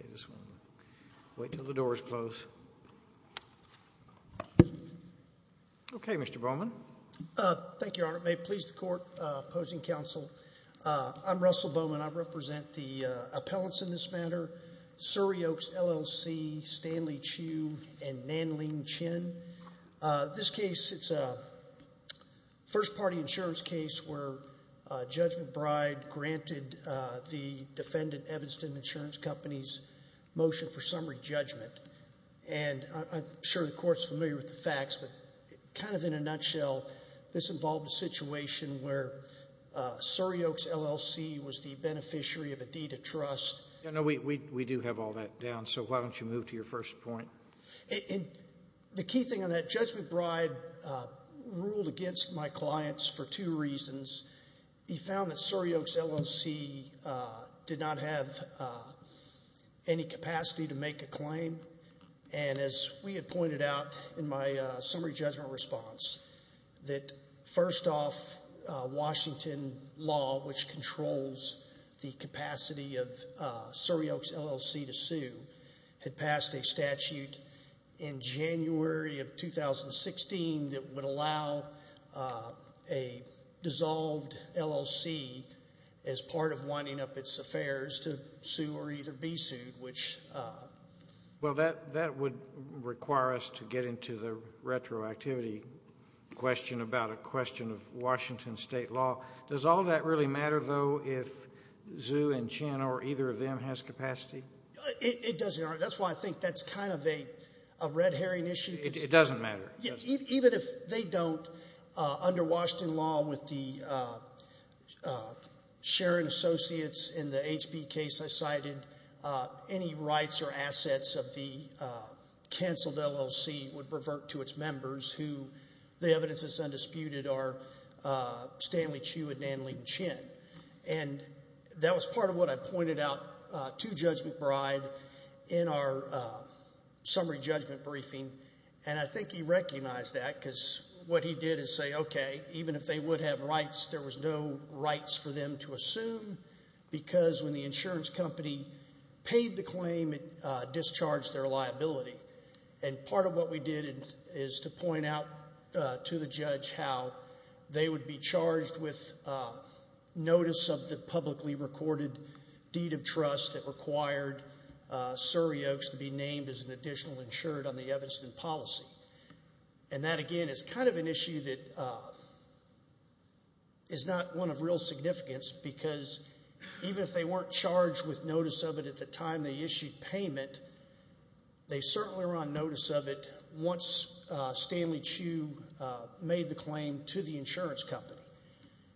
I'm Russell Bowman. I represent the appellants in this matter, Surrey Oaks, L.L.C., Stanley Chu, and Nan Ling Chin. This case, it's a first-party insurance case where Judge McBride granted the defendant, Evanston Insurance Company's motion for summary judgment. And I'm sure the Court's familiar with the facts, but kind of in a nutshell, this involved a situation where Surrey Oaks, L.L.C. was the beneficiary of a deed of trust. No, no, we do have all that down, so why don't you move to your first point? The key thing on that, Judge McBride ruled against my clients for two reasons. He found that Surrey Oaks, L.L.C. did not have any capacity to make a claim. And as we had pointed out in my summary judgment response, that first off, Washington law, which controls the capacity of Surrey Oaks, L.L.C. to sue, had passed a statute in January of 2016 that would allow a dissolved L.L.C. as part of winding up its affairs to sue or either be sued, which — Well, that would require us to get into the retroactivity question about a question of Washington state law. Does all that really matter, though, if Zhu and Chin or either of them has capacity? It doesn't, Your Honor. That's why I think that's kind of a red herring issue. It doesn't matter? Yeah. Even if they don't, under Washington law with the Sharon Associates in the HB case I cited, any rights or assets of the canceled L.L.C. would revert to its members, who the evidence is undisputed are Stanley Chu and Nan Lin Chin. And that was part of what I recognized that because what he did is say, okay, even if they would have rights, there was no rights for them to assume because when the insurance company paid the claim, it discharged their liability. And part of what we did is to point out to the judge how they would be charged with notice of the publicly recorded deed of trust that required Surrey Oaks to be named as an additional insured on the Evidence and Policy. And that, again, is kind of an issue that is not one of real significance because even if they weren't charged with notice of it at the time they issued payment, they certainly were on notice of it once Stanley Chu made the claim to the insurance company.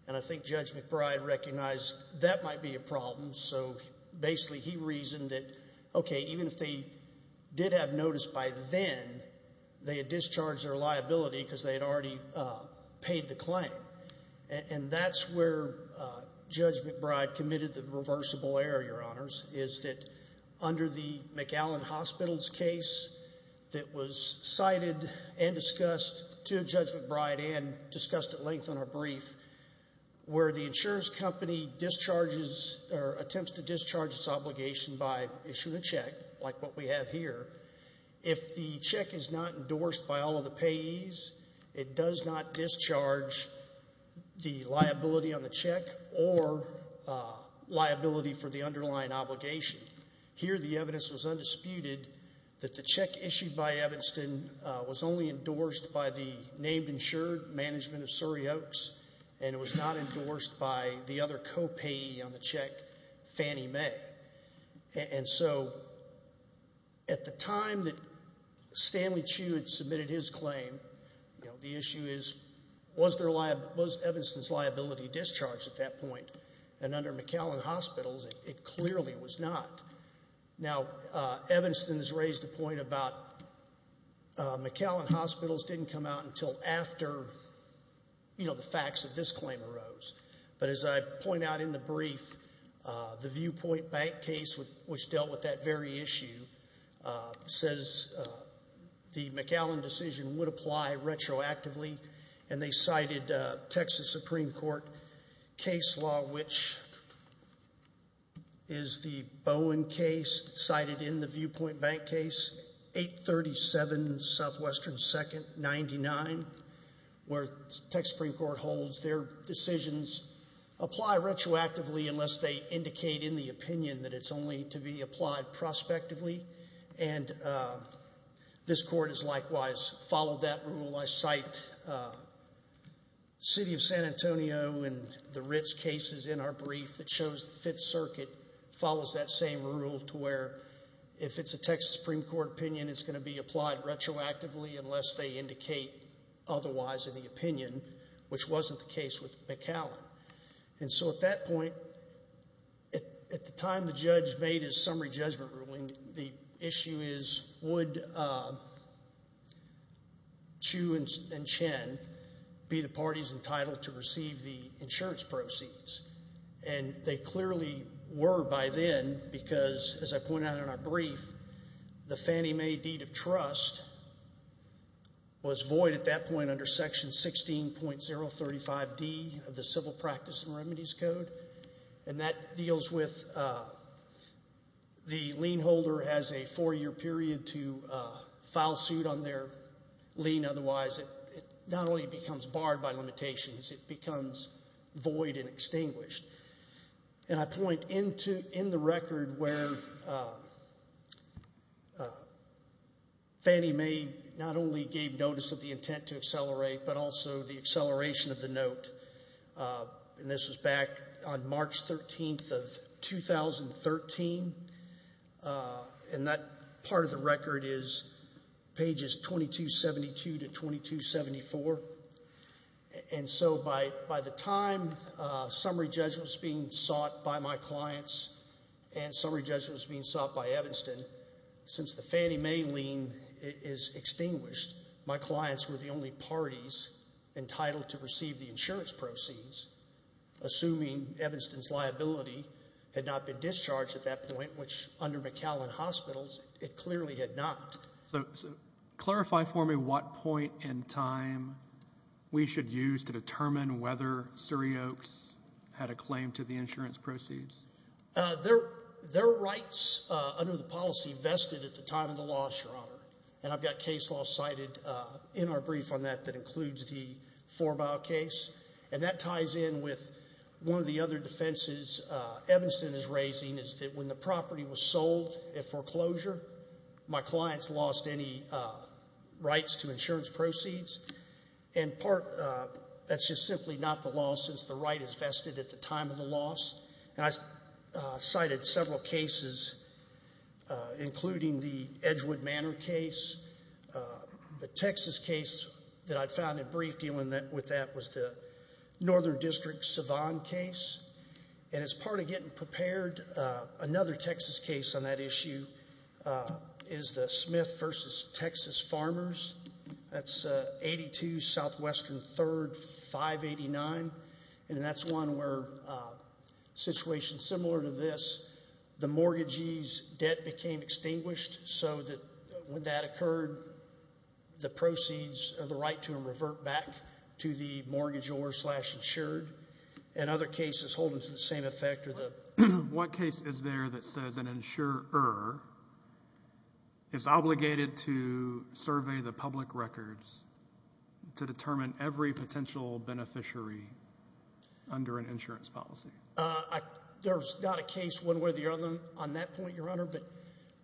And I think Judge McBride recognized that might be a problem. So basically he reasoned that, okay, even if they did have notice by then, they had discharged their liability because they had already paid the claim. And that's where Judge McBride committed the reversible error, Your Honors, is that under the McAllen Hospital's case that was cited and discussed to Judge McBride and discussed at the time, attempts to discharge its obligation by issuing a check, like what we have here, if the check is not endorsed by all of the payees, it does not discharge the liability on the check or liability for the underlying obligation. Here the evidence was undisputed that the check issued by Evanston was only endorsed by the named insured management of payee on the check, Fannie Mae. And so at the time that Stanley Chu had submitted his claim, you know, the issue is, was Evanston's liability discharged at that point? And under McAllen Hospital's it clearly was not. Now Evanston's raised a point about McAllen Hospital's didn't come out until after, you know, the facts of this claim arose. But as I point out in the brief, the Viewpoint Bank case, which dealt with that very issue, says the McAllen decision would apply retroactively. And they cited Texas Supreme Court case law, which is the Bowen case cited in the Viewpoint Bank case, 837 Southwestern 2nd 99, where they indicated in the opinion that it's only to be applied prospectively. And this court has likewise followed that rule. I cite City of San Antonio and the Ritz cases in our brief that shows the Fifth Circuit follows that same rule to where if it's a Texas Supreme Court opinion, it's going to be applied retroactively unless they indicate otherwise in the opinion, which wasn't the case with McAllen. And so at that point, at the time the judge made his summary judgment ruling, the issue is, would Chu and Chen be the parties entitled to receive the insurance proceeds? And they clearly were by then because, as I pointed out in our brief, the Fannie Mae deed of trust was void at that point under Section 16.035D of the Civil Practice and Remedies Code. And that deals with the lien holder has a four-year period to file suit on their lien. Otherwise, it not only becomes barred by limitations, it becomes void and extinguished. And I point in the record where Fannie Mae not only gave notice of the intent to accelerate, but also the acceleration of the note. And this was back on March 13th of 2013. And that part of the record is pages 2272 to 2274. And so by the time summary judgment was being sought by my clients and summary judgment was being sought by Evanston, since the Fannie Mae lien is extinguished, my clients were the only parties entitled to receive the insurance proceeds, assuming Evanston's liability had not been discharged at that point, which under McAllen Hospitals, it clearly had not. So clarify for me what point in time we should use to determine whether Surry Oaks had a claim to the insurance proceeds. Their rights under the policy vested at the time of the loss, Your Honor. And I've got a case law cited in our brief on that that includes the Forbaugh case. And that ties in with one of the other defenses Evanston is raising, is that when the property was sold at foreclosure, my clients lost any rights to insurance proceeds. And that's just simply not the law, since the right is vested at the time of the loss. And I cited several cases, including the Edgewood Manor case. The Texas case that I found in brief dealing with that was the Northern District Savon case. And as part of getting prepared, another Texas case on that issue is the Smith v. Texas Farmers. That's 82 Southwestern 3rd, 589. And that's one where a situation similar to this, the mortgagee's debt became extinguished so that when that occurred, the proceeds or the right to them revert back to the mortgagor slash insured. And other cases holding to the same effect are the What case is there that says an insurer is obligated to survey the public records to under an insurance policy? There's not a case one way or the other on that point, Your Honor. But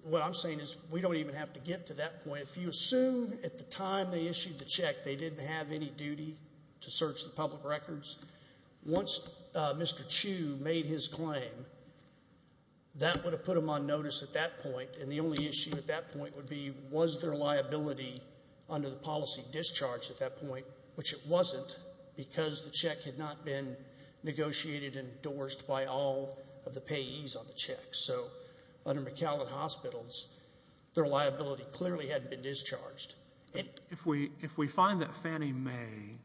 what I'm saying is we don't even have to get to that point. If you assume at the time they issued the check they didn't have any duty to search the public records, once Mr. Chu made his claim, that would have put them on notice at that point. And the only issue at that point would be was there liability under the policy discharge at that point, which it wasn't because the check had not been negotiated and endorsed by all of the payees on the check. So under McAllen Hospitals, their liability clearly hadn't been discharged. If we find that Fannie Mae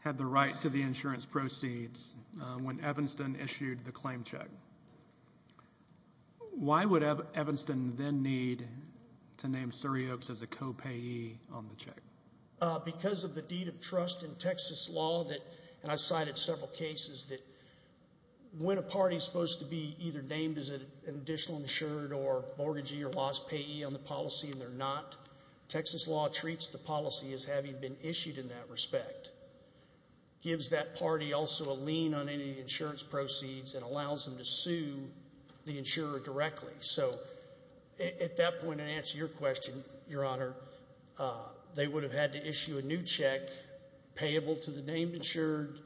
had the right to the insurance proceeds when Evanston issued the claim check, why would Evanston then need to name Surry Oaks as a co-payee on the check? Because of the deed of trust in Texas law that, and I've cited several cases that when a party is supposed to be either named as an additional insured or mortgagee or lost payee on the policy and they're not, Texas law treats the policy as having been issued in that respect. Gives that party also a lien on any of the insurance proceeds and allows them to sue the insurer directly. So at that point, to answer your question, Your Honor, they would have had to issue a new check payable to the named insured,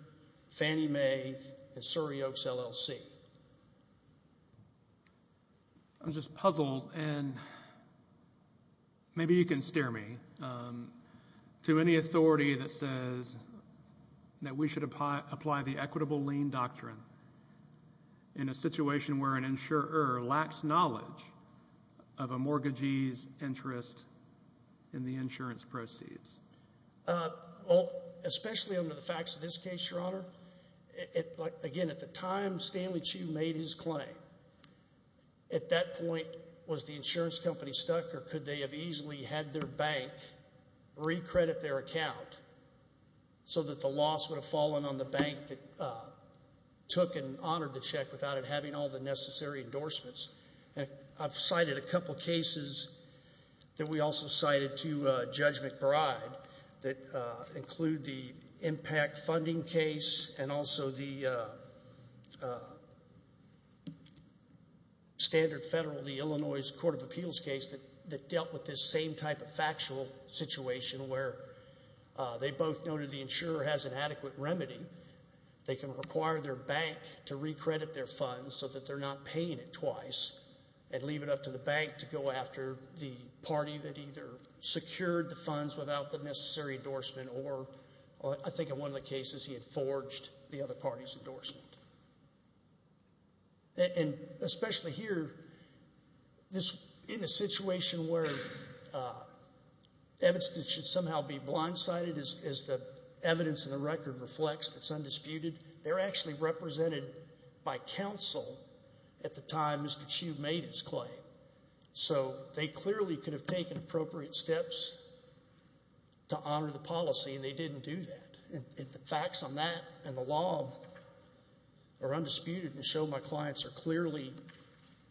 Fannie Mae, and Surry Oaks, LLC. I'm just puzzled and maybe you can steer me to any authority that says that we should apply the equitable lien doctrine in a situation where an insurer lacks knowledge of a mortgagee's interest in the insurance proceeds. Well, especially under the facts of this case, Your Honor, again, at the time Stanley Chu made his claim, at that point, was the insurance company stuck or could they have easily had their bank recredit their account so that the loss would have fallen on the bank that took and honored the check without it having all the necessary endorsements. I've cited a couple cases that we also cited to Judge McBride that include the impact funding case and also the standard federal, the Illinois Court of Appeals case that dealt with this same type of factual situation where they both noted the insurer has an adequate remedy. They can require their bank to recredit their funds so that they're not paying it twice and leave it up to the bank to go after the party that either secured the funds without the necessary endorsement or, I think in one of the cases, he had forged the other party's endorsement. And especially here, in a situation where evidence that should somehow be blindsided as the evidence in the record reflects that's undisputed, they're actually represented by counsel at the time Mr. Chu made his claim. So they clearly could have taken appropriate steps to honor the policy and they didn't do that. And the facts on that and the law are undisputed and show my clients are clearly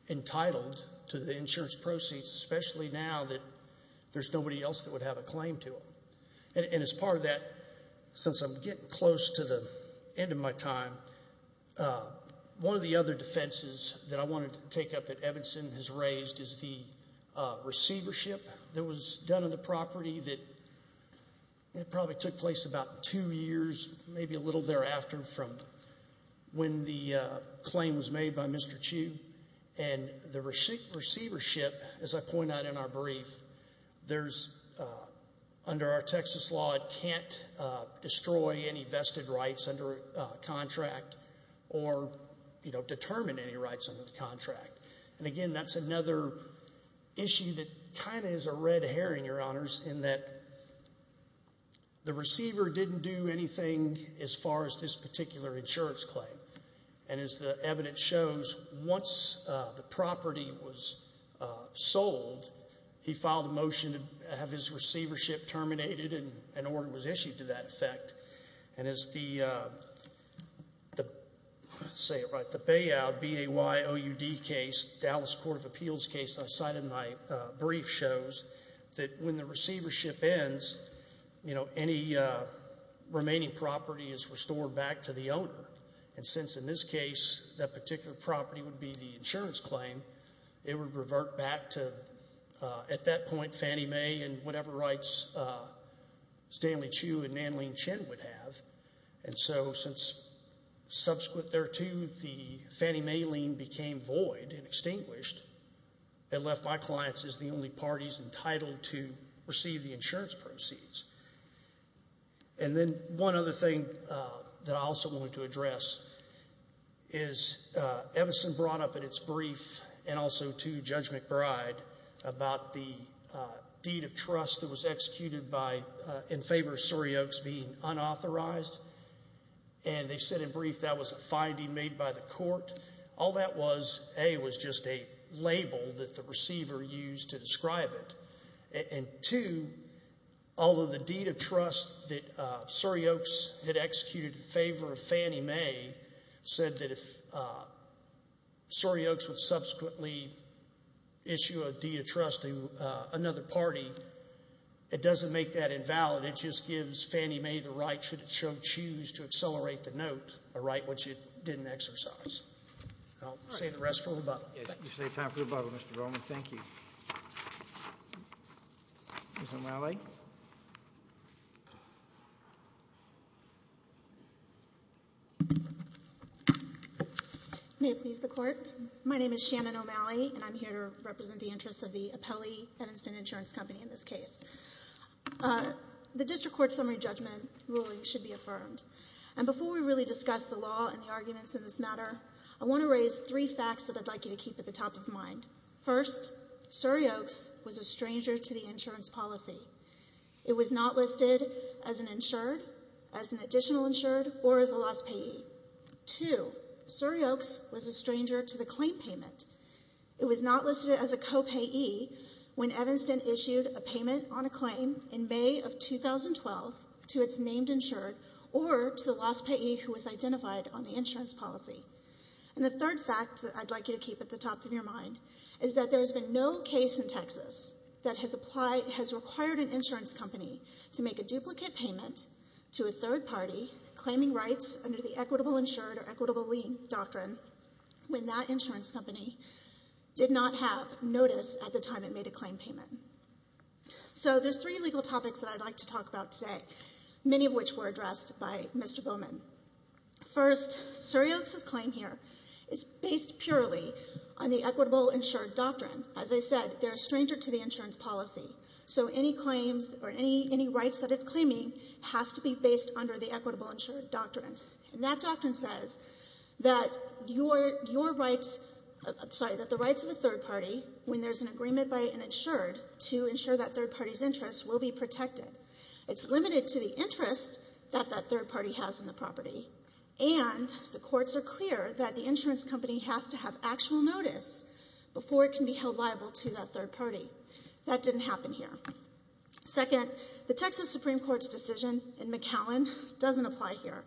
entitled to the insurance proceeds, especially now that there's nobody else that would have a claim to them. And as part of that, since I'm getting close to the end of my time, one of the other defenses that I want to take up that Evanson has raised is the receivership that was done on the property that probably took place about two years, maybe a little thereafter from when the claim was made by Mr. Chu. And the receivership, as I point out in our brief, there's under our Texas law it can't destroy any vested rights under a contract or, you know, determine any rights under the contract. And again, that's another issue that kind of is a red herring, Your Honors, in that the receiver didn't do anything as far as this particular insurance claim. And as the evidence shows, once the property was sold, he filed a motion to have his receivership terminated, and an order was issued to that effect. And as the, say it right, the BAYOUD, B-A-Y-O-U-D case, Dallas Court of Appeals case I cited in my brief shows that when the receivership ends, you know, any remaining property is restored back to the owner. And since in this case that particular property would be the Fannie Mae and whatever rights Stanley Chu and Nan Lin Chin would have, and so since subsequent thereto the Fannie Mae lien became void and extinguished, it left my clients as the only parties entitled to receive the insurance proceeds. And then one other thing that I also wanted to address is Evison brought up in its brief and also to Judge McBride about the deed of trust that was executed by, in favor of Surry Oaks being unauthorized. And they said in brief that was a finding made by the court. All that was, A, was just a label that the receiver used to describe it. And two, although the deed of trust that Surry Oaks had executed in favor of Fannie Mae said that if Surry Oaks would subsequently issue a deed of trust to another party, it doesn't make that invalid. It just gives Fannie Mae the right, should it so choose, to accelerate the note, a right which it didn't exercise. I'll save the rest for rebuttal. You saved time for rebuttal, Mr. Roman. Thank you. Ms. O'Malley? May it please the Court. My name is Shannon O'Malley, and I'm here to represent the interests of the Appelli-Evanston Insurance Company in this case. The district court summary judgment ruling should be affirmed. And before we really discuss the law and the arguments in this matter, I want to raise three facts that I'd like you to keep at the top of mind. First, Surry Oaks was a stranger to the insurance policy. It was not listed as an insured, as an additional insured, or as a lost payee. Two, Surry Oaks was a stranger to the claim payment. It was not listed as a copayee when Evanston issued a payment on a claim in May of 2012 to its named insured or to the lost payee who was identified on the insurance policy. And the third fact that I'd like you to keep is that there is no case in Texas that has applied, has required an insurance company to make a duplicate payment to a third party claiming rights under the equitable insured or equitable lien doctrine when that insurance company did not have notice at the time it made a claim payment. So there's three legal topics that I'd like to talk about today, many of which were addressed by Mr. Bowman. First, Surry Oaks' claim here is based purely on the equitable insured doctrine, as I said, they're a stranger to the insurance policy. So any claims or any rights that it's claiming has to be based under the equitable insured doctrine. And that doctrine says that your rights, sorry, that the rights of a third party when there's an agreement by an insured to ensure that third party's interest will be protected. It's limited to the interest that that third party has in the property. And the courts are clear that the insurance company has to have actual notice before it can be held liable to that third party. That didn't happen here. Second, the Texas Supreme Court's decision in McAllen doesn't apply here.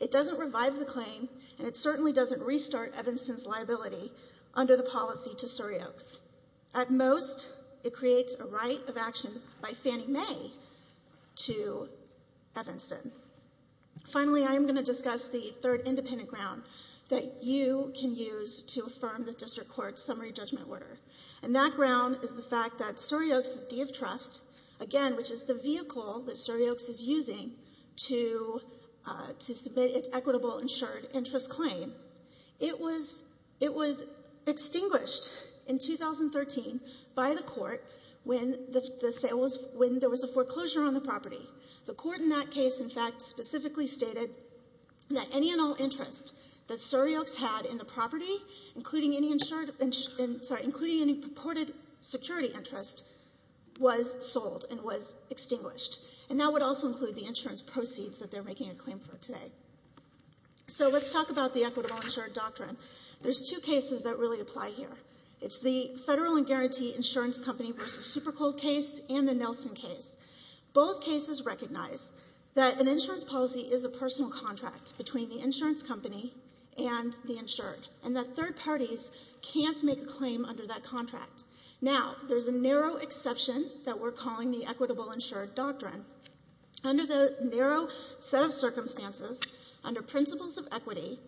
It doesn't revive the claim and it certainly doesn't restart Evanston's liability under the policy to Surry Oaks. At most, it creates a right of action by Fannie Mae to Evanston. Finally, I am going to discuss the District Court's summary judgment order. And that ground is the fact that Surry Oaks' D of Trust, again, which is the vehicle that Surry Oaks is using to submit its equitable insured interest claim, it was extinguished in 2013 by the court when there was a foreclosure on the property. The court in that case, in fact, specifically stated that any and all interest that Surry Oaks had in the property, including any insured, sorry, including any purported security interest, was sold and was extinguished. And that would also include the insurance proceeds that they're making a claim for today. So let's talk about the equitable insured doctrine. There's two cases that really apply here. It's the Federal and Guarantee Insurance Company v. Super Cold case and the Nelson case. Both cases recognize that an insurance policy is a personal contract between the insurance company and the insured, and that third parties can't make a claim under that contract. Now, there's a narrow exception that we're calling the equitable insured doctrine. Under the narrow set of circumstances, under principles of equity,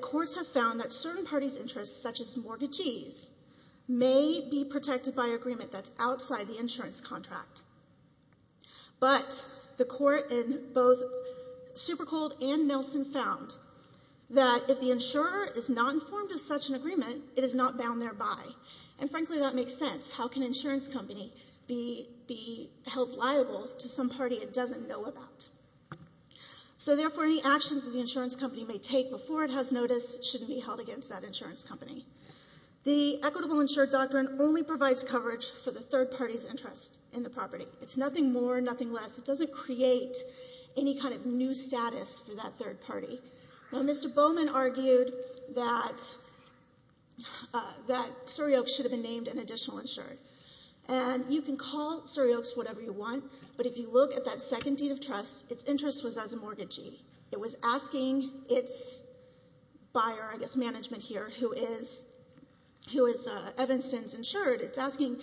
courts have found that certain parties' interests, such as mortgagees, may be protected by agreement that's outside the insurance contract. But the court in both Super Cold and Nelson found that if the insurer is not informed of such an agreement, it is not bound thereby. And frankly, that makes sense. How can an insurance company be held liable to some party it doesn't know about? So therefore, any actions that the insurance company may take before it has notice shouldn't be held against that insurance company. The It's nothing more, nothing less. It doesn't create any kind of new status for that third party. Now, Mr. Bowman argued that Surry Oaks should have been named an additional insured. And you can call Surry Oaks whatever you want, but if you look at that second deed of trust, its interest was as a mortgagee. It was asking its buyer, I guess management here, who is Evanston's insured, it's asking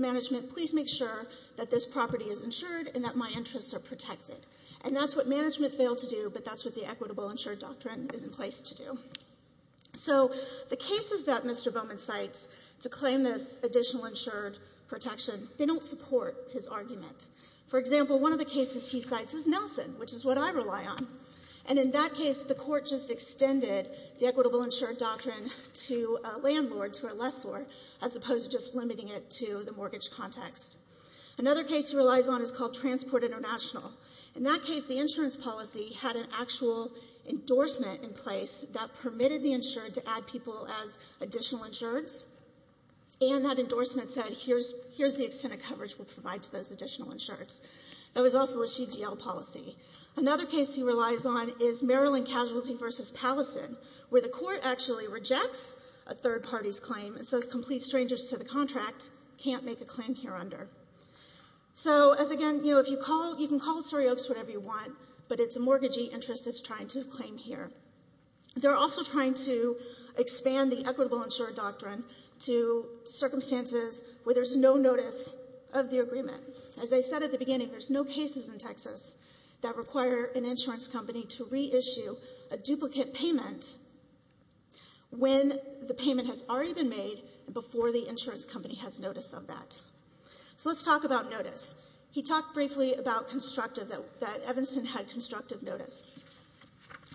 management, please make sure that this property is insured and that my interests are protected. And that's what management failed to do, but that's what the equitable insured doctrine is in place to do. So the cases that Mr. Bowman cites to claim this additional insured protection, they don't support his argument. For example, one of the cases he cites is Nelson, which is what I rely on. And in that case, the court just extended the equitable as opposed to just limiting it to the mortgage context. Another case he relies on is called Transport International. In that case, the insurance policy had an actual endorsement in place that permitted the insured to add people as additional insureds. And that endorsement said, here's the extent of coverage we'll provide to those additional insureds. That was also a CDL policy. Another case he relies on is Maryland Casualty v. Palliston, where the court actually rejects a third party's claim and says complete strangers to the contract can't make a claim here under. So, as again, you know, if you call, you can call it sorry oaks, whatever you want, but it's a mortgagee interest that's trying to claim here. They're also trying to expand the equitable insured doctrine to circumstances where there's no notice of the agreement. As I said at the beginning, there's no cases in Texas that require an insurance company to reissue a duplicate payment when the payment has already been made and before the insurance company has notice of that. So let's talk about notice. He talked briefly about constructive, that Evanston had constructive notice.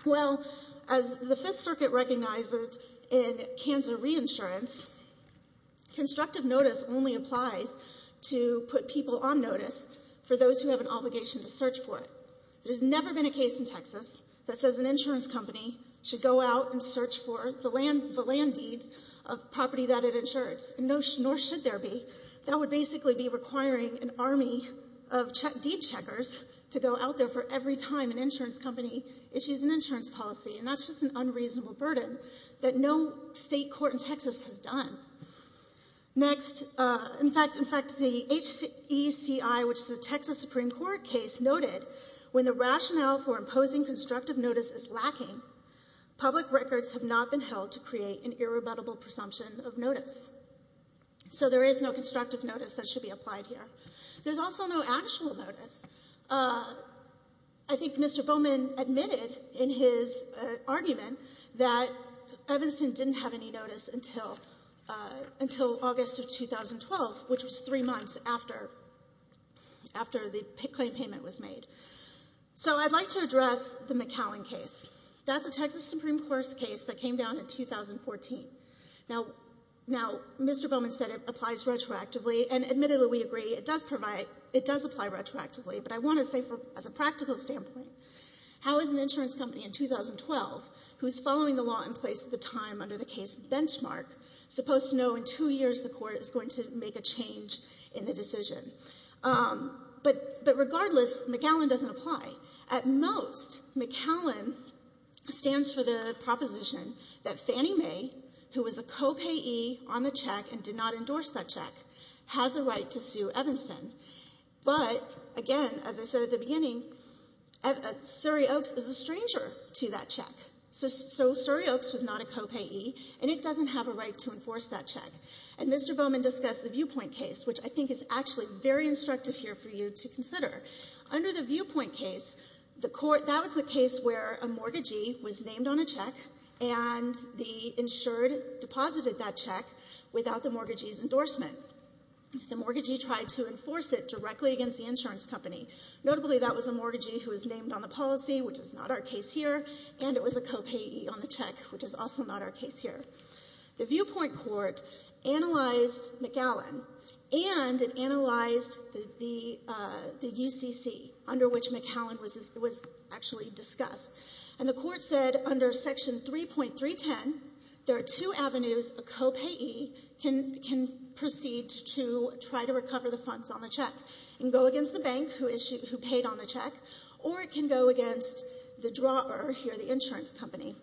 Well, as the Fifth Circuit recognizes in Kansa re-insurance, constructive notice only applies to put people on notice for those who have an obligation to search for it. There's never been a case in Texas that says an insurance company should go out and search for the land deeds of property that it insured, nor should there be. That would basically be requiring an army of deed checkers to go out there for every time an insurance company issues an insurance policy, and that's just an unreasonable burden that no State court in Texas has done. Next, in fact, the HECI, which is a Texas Supreme Court case, noted when the rationale for imposing constructive notice is lacking, public records have not been held to create an irrebuttable presumption of notice. So there is no constructive notice that should be applied here. There's also no actual notice. I think Mr. Bowman admitted in his argument that Evanston didn't have any notice until August of 2012, which was three months after the claim payment was made. So I'd like to address the McAllen case. That's a Texas Supreme Court case that came down in 2014. Now, Mr. Bowman said it applies retroactively, and admittedly, we agree, it does apply retroactively. But I want to say, as a practical standpoint, how is an insurance company in 2012 who's following the law in place at the time under the case benchmark supposed to know in two years the court is going to make a change in the decision? But regardless, McAllen doesn't apply. At most, McAllen stands for the proposition that Fannie Mae, who was a co-payee on the check and did not endorse that check, has a right to sue Evanston. But again, as I said at the beginning, Surry Oaks is a stranger to that check. So Surry Oaks was not a co-payee, and it doesn't have a right to enforce that check. And Mr. Bowman discussed the viewpoint case, which I think is actually very instructive here for you to consider. Under the viewpoint case, that was the case where a mortgagee was named on a check, and the insured deposited that check without the mortgagee's endorsement. The mortgagee tried to enforce it directly against the insurance company. Notably, that was a mortgagee who was named on the policy, which is not our case here, and it was a co-payee on the check, which is also not our case here. The viewpoint court analyzed McAllen, and it analyzed the UCC, under which McAllen was actually discussed. And the court said under section 3.310, there are two avenues a co-payee can proceed to try to enforce a mortgage on the check, or it can go against the insurance company.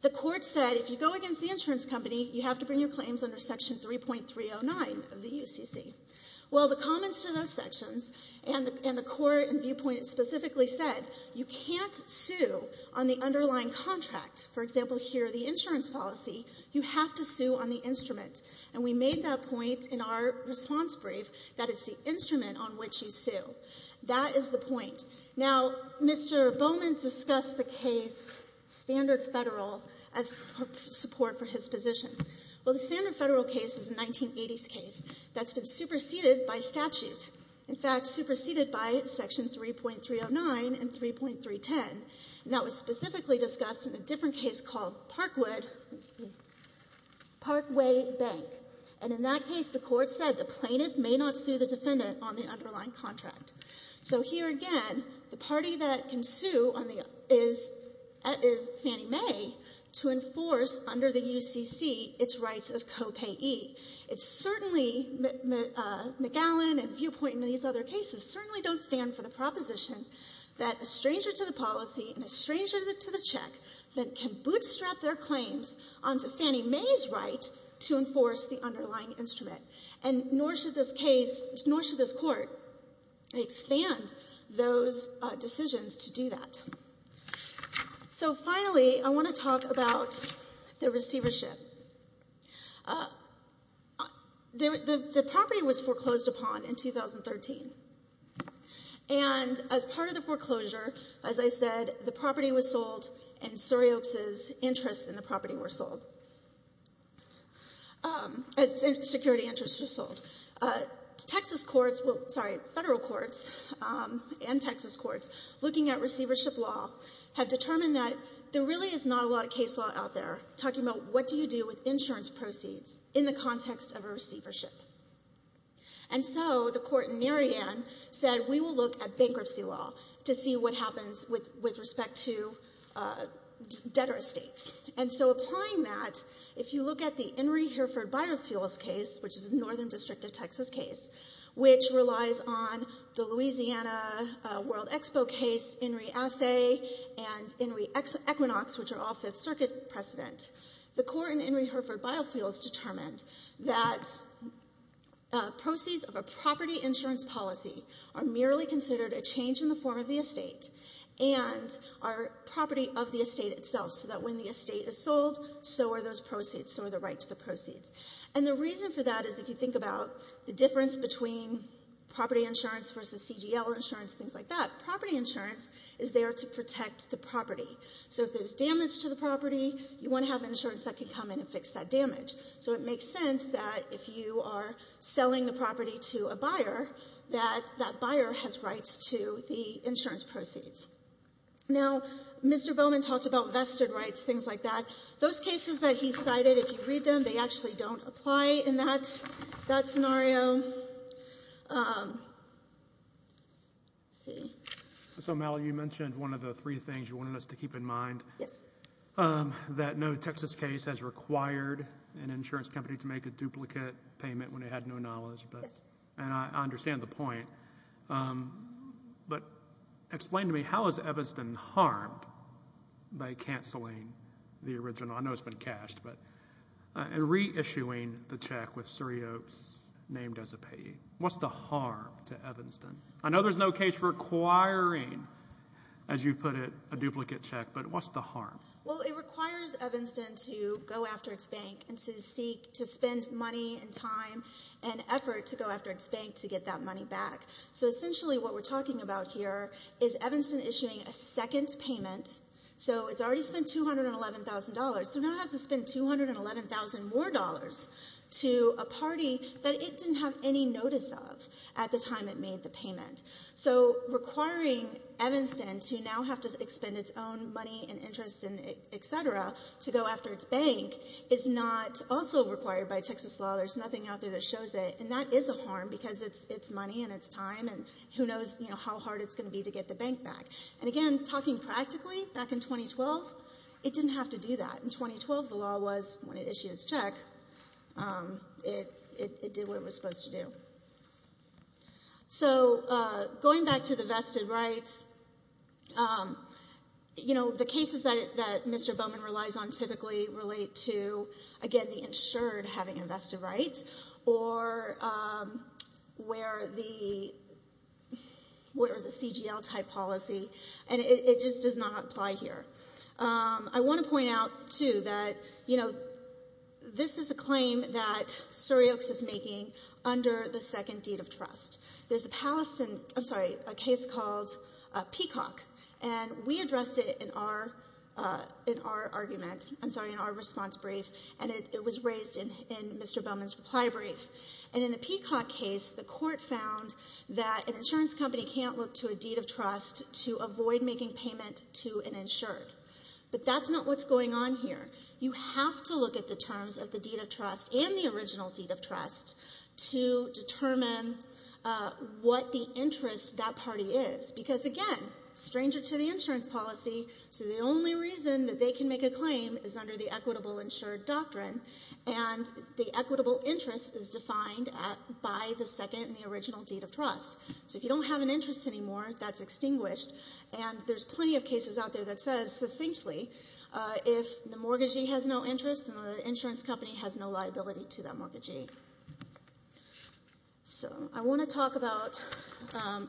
The court said, if you go against the insurance company, you have to bring your claims under section 3.309 of the UCC. Well, the comments to those sections, and the court and viewpoint specifically said, you can't sue on the underlying contract. For example, here, the insurance policy, you have to sue on the instrument. And we made that point in our response brief, that it's the instrument on which you sue. That is the point. Now, Mr. Bowman discussed the case standard federal as support for his position. Well, the standard federal case is a 1980s case that's been superseded by statute. In fact, superseded by section 3.309 and 3.310. And that was specifically discussed in a different case called Parkway Bank. And in that case, the court said, the plaintiff may not sue the defendant on the underlying contract. So here again, the party that can sue is Fannie Mae to enforce under the UCC, its rights as co-payee. It's certainly, McAllen and viewpoint in these other cases, certainly don't stand for the proposition that a stranger to the policy and a stranger to the And nor should this case, nor should this court expand those decisions to do that. So finally, I want to talk about the receivership. The property was foreclosed upon in 2013. And as part of the foreclosure, as I said, the property was sold and Suryoak's interests in the property were sold. Security interests were sold. Texas courts, well, sorry, federal courts and Texas courts, looking at receivership law, have determined that there really is not a lot of case law out there talking about what do you do with insurance proceeds in the context of a receivership. And so the court in Mary Ann said, we will look at bankruptcy law to see what happens with respect to debtor estates. And so applying that, if you look at the Enri Hereford Biofuels case, which is a northern district of Texas case, which relies on the Louisiana World Expo case, Enri Assay and Enri Equinox, which are all Fifth Circuit precedent, the court in Enri Hereford Biofuels determined that proceeds of a property insurance policy are merely considered a change in the form of the estate and are property of the estate itself, so that when the estate is sold, so are those proceeds, so are the right to the proceeds. And the reason for that is, if you think about the difference between property insurance versus CGL insurance, things like that, property insurance is there to protect the property. So if there's damage to the property, you want to have insurance that can come in and fix that damage. So it makes sense that if you are selling the property to a buyer, that that buyer has rights to the insurance proceeds. Now, Mr. Bowman talked about vested rights, things like that. Those cases that he cited, if you read them, they actually don't apply in that scenario. So, Mal, you mentioned one of the three things you wanted us to keep in mind. Yes. That no Texas case has required an insurance company to make a duplicate payment when it had no knowledge. And I understand the point. But explain to me, how is Evanston harmed by canceling the original, I know it's been cashed, but, and reissuing the check with Surry Oaks named as a payee? What's the harm to Evanston? I know there's no case requiring, as you put it, a duplicate check, but what's the harm? Well, it requires Evanston to go after its bank and to seek to spend money and time and effort to go after its bank to get that money back. So essentially what we're talking about here is Evanston issuing a second payment. So it's already spent $211,000. So now it has to spend $211,000 more to a party that it didn't have any notice of at the time it made the payment. So requiring Evanston to now have to spend its own money and interest and etc. to go after its bank is not also required by Texas law. There's nothing out there that shows it. And that is a harm because it's money and it's time and who knows how hard it's going to be to get the bank back. And again, talking practically, back in 2012, it didn't have to do that. In 2012, the law was when it issued its check, it did what it was supposed to do. So going back to the vested rights, you know, the cases that Mr. Bowman relies on typically relate to, again, the insured having a vested right or where there's a CGL type policy and it just does not apply here. I want to point out too that, you know, this is a claim that Syriox is making under the second deed of trust. There's a Palestine, I'm sorry, a case called Peacock and we addressed it in our argument, I'm sorry, in our response brief and it was raised in Mr. Bowman's reply brief. And in the Peacock case, the court found that an insurance company can't look to a deed of trust to avoid making payment to an insured. But that's not what's going on here. You have to look at the terms of the deed of trust and the original deed of trust to determine what the interest of that party is. Because, again, stranger to the insurance policy, so the only reason that they can make a claim is under the equitable insured doctrine and the equitable interest is defined by the second and the original deed of trust. So if you don't have an interest anymore, that's extinguished and there's plenty of cases out there that says succinctly if the mortgagee has no interest, then the insurance company has no liability to that mortgagee. So I want to talk about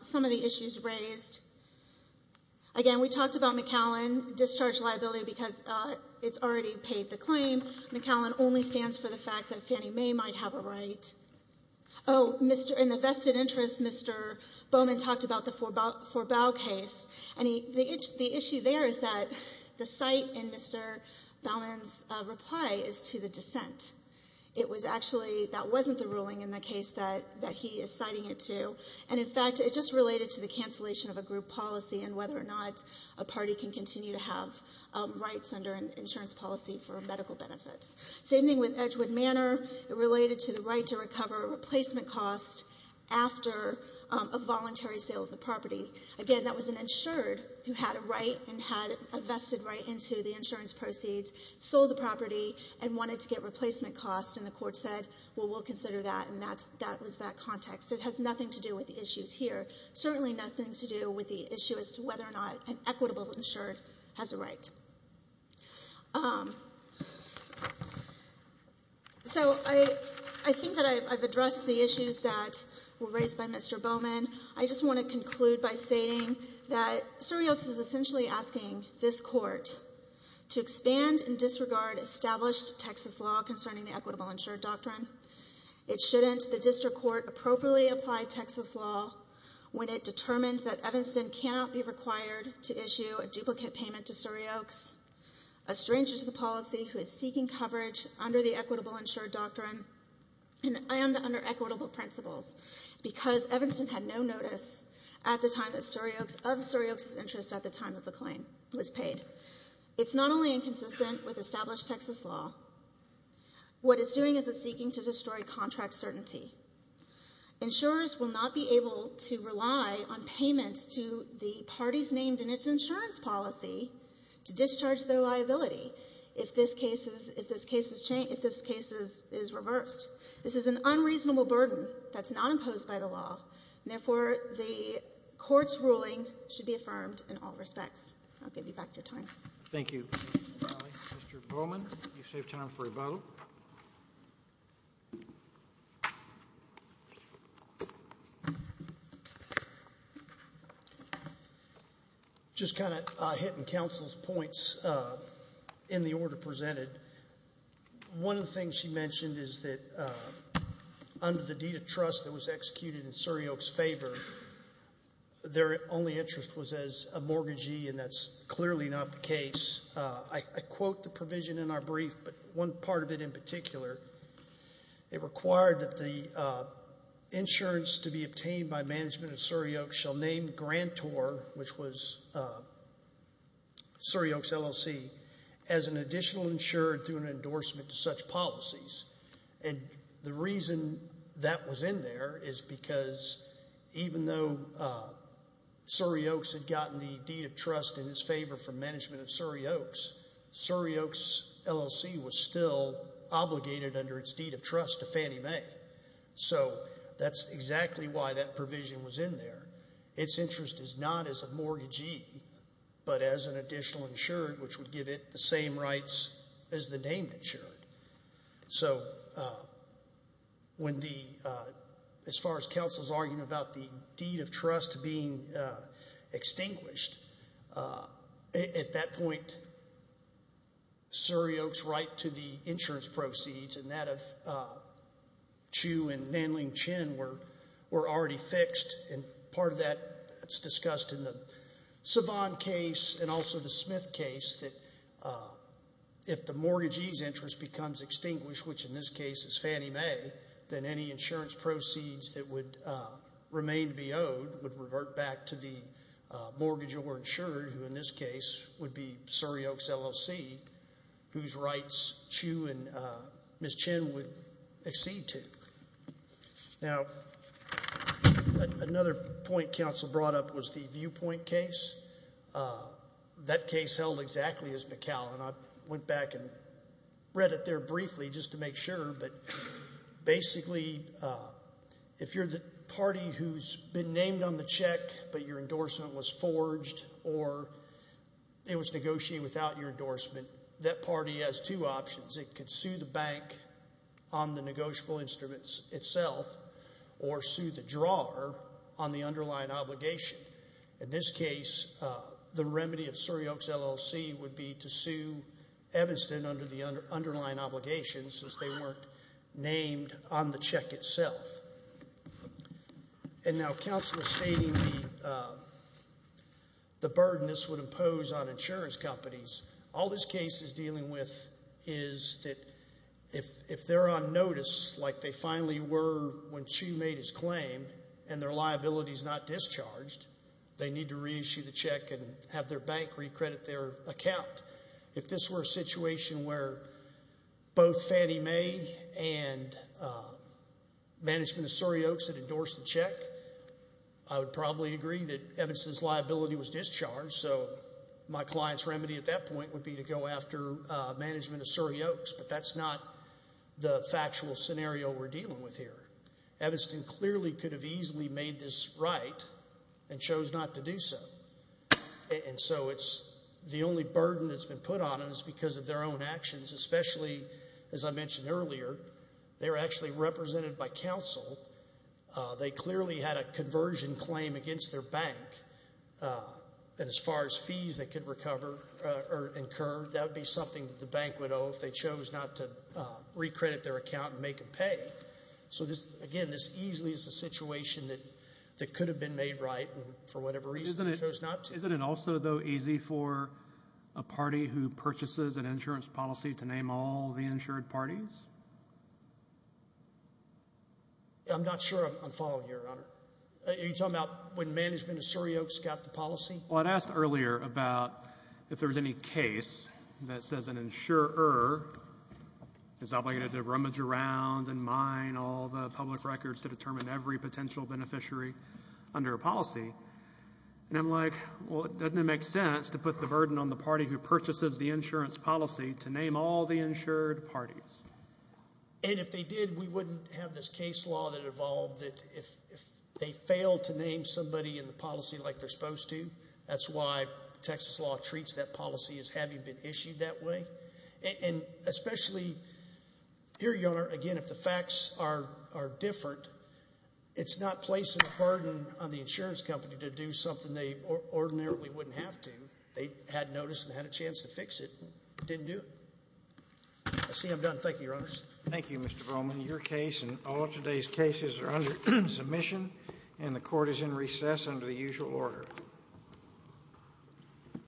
some of the issues raised. Again, we talked about McAllen, discharge liability, because it's already paid the claim. McAllen only stands for the fact that Fannie Mae might have a right. Oh, in the vested interest, Mr. Bowman talked about the Forbau case and the issue there is that the site in Mr. Bowman's reply is to the extent. It was actually, that wasn't the ruling in the case that he is citing it to and, in fact, it just related to the cancellation of a group policy and whether or not a party can continue to have rights under an insurance policy for medical benefits. Same thing with Edgewood Manor. It related to the right to recover a replacement cost after a voluntary sale of the property. Again, that was an insured who had a right and had a vested right into the insurance proceeds, sold the property, and wanted to get replacement costs, and the court said, well, we'll consider that, and that was that context. It has nothing to do with the issues here. Certainly nothing to do with the issue as to whether or not an equitable insured has a right. So I think that I've addressed the issues that were raised by Mr. Bowman. I just want to conclude by stating that Surry Oaks is essentially asking this court to expand and disregard established Texas law concerning the equitable insured doctrine. It shouldn't. The district court appropriately applied Texas law when it determined that Evanston cannot be required to issue a duplicate payment to Surry Oaks, a stranger to the policy who is seeking coverage under the equitable insured doctrine and under equitable principles because Evanston had no notice at the time that Surry Oaks, of Surry Oaks' interest at the time of the claim was paid. It's not only inconsistent with established Texas law. What it's doing is it's seeking to destroy contract certainty. Insurers will not be able to rely on payments to the parties named in its insurance policy to discharge their liability if this case is reversed. This is an unreasonable burden that's not imposed by the law, and therefore, the court's ruling should be affirmed in all respects. I'll give you back your time. Thank you. Mr. Bowman, you save time for a vote. Just kind of hitting counsel's points in the order presented. One of the things she mentioned is that under the deed of trust that was executed in Surry Oaks' favor, their only interest was as a mortgagee, and that's clearly not the case. I quote the provision in our brief, but one part of it in particular, it required that the insurance to be obtained by management of Surry Oaks shall name Grantor, which was Surry Oaks LLC, as an additional insured through an endorsement to such policies. And the reason that was in there is because even though Surry Oaks had gotten the deed of trust in its favor from management of Surry Oaks, Surry Oaks LLC was still obligated under its deed of trust to Fannie Mae. So that's exactly why that provision was in there. Its interest is not as a mortgagee, but as an additional insured, which would give it the same rights as the named insured. So when the, as far as counsel's arguing about the deed of trust being extinguished, at that point Surry Oaks' right to the insurance proceeds and that of Chu and Nanling Chen were already fixed, and part of that is discussed in the Smith case that if the mortgagee's interest becomes extinguished, which in this case is Fannie Mae, then any insurance proceeds that would remain to be owed would revert back to the mortgagee or insured, who in this case would be Surry Oaks LLC, whose rights Chu and Ms. Chen would accede to. Now, another point counsel brought up was the viewpoint case. That case held exactly as McCall, and I went back and read it there briefly just to make sure, but basically if you're the party who's been named on the check, but your endorsement was forged or it was negotiated without your endorsement, that party has two options. It could sue the bank on the negotiable instruments itself or sue the drawer on the underlying obligation. In this case, the remedy of Surry Oaks LLC would be to sue Evanston under the underlying obligation since they weren't named on the check itself. And now counsel is stating the burden this would impose on the parties. All this case is dealing with is that if they're on notice like they finally were when Chu made his claim and their liability is not discharged, they need to reissue the check and have their bank recredit their account. If this were a situation where both Fannie Mae and management of Surry Oaks had endorsed the check, I would probably agree that Evanston's liability was discharged. So my client's remedy at that point would be to go after management of Surry Oaks, but that's not the factual scenario we're dealing with here. Evanston clearly could have easily made this right and chose not to do so. And so it's the only burden that's been put on them is because of their own actions, especially as I mentioned earlier, they're actually represented by counsel. They clearly had a conversion claim against their bank. And as far as fees they could recover or incur, that would be something that the bank would owe if they chose not to recredit their account and make them pay. So again, this easily is a situation that could have been made right and for whatever reason chose not to. Isn't it also though easy for a party who purchases an insurance policy to name all the insured parties? I'm not sure I'm following you, Your Honor. Are you talking about when management of Surry Oaks got the policy? Well, I'd asked earlier about if there was any case that says an insurer is obligated to rummage around and mine all the public records to determine every potential beneficiary under a policy. And I'm like, well, doesn't it make sense to put the burden on the party who purchases the insurance policy to name all the insured parties? And if they did, we have this case law that evolved that if they fail to name somebody in the policy like they're supposed to, that's why Texas law treats that policy as having been issued that way. And especially here, Your Honor, again, if the facts are different, it's not placing a burden on the insurance company to do something they ordinarily wouldn't have to. They had notice and had a chance to fix it. Didn't do it. I see I'm done. Thank you, Your Honor. Thank you, Mr. Broman. Your case and all of today's cases are under submission and the court is in recess under the usual order.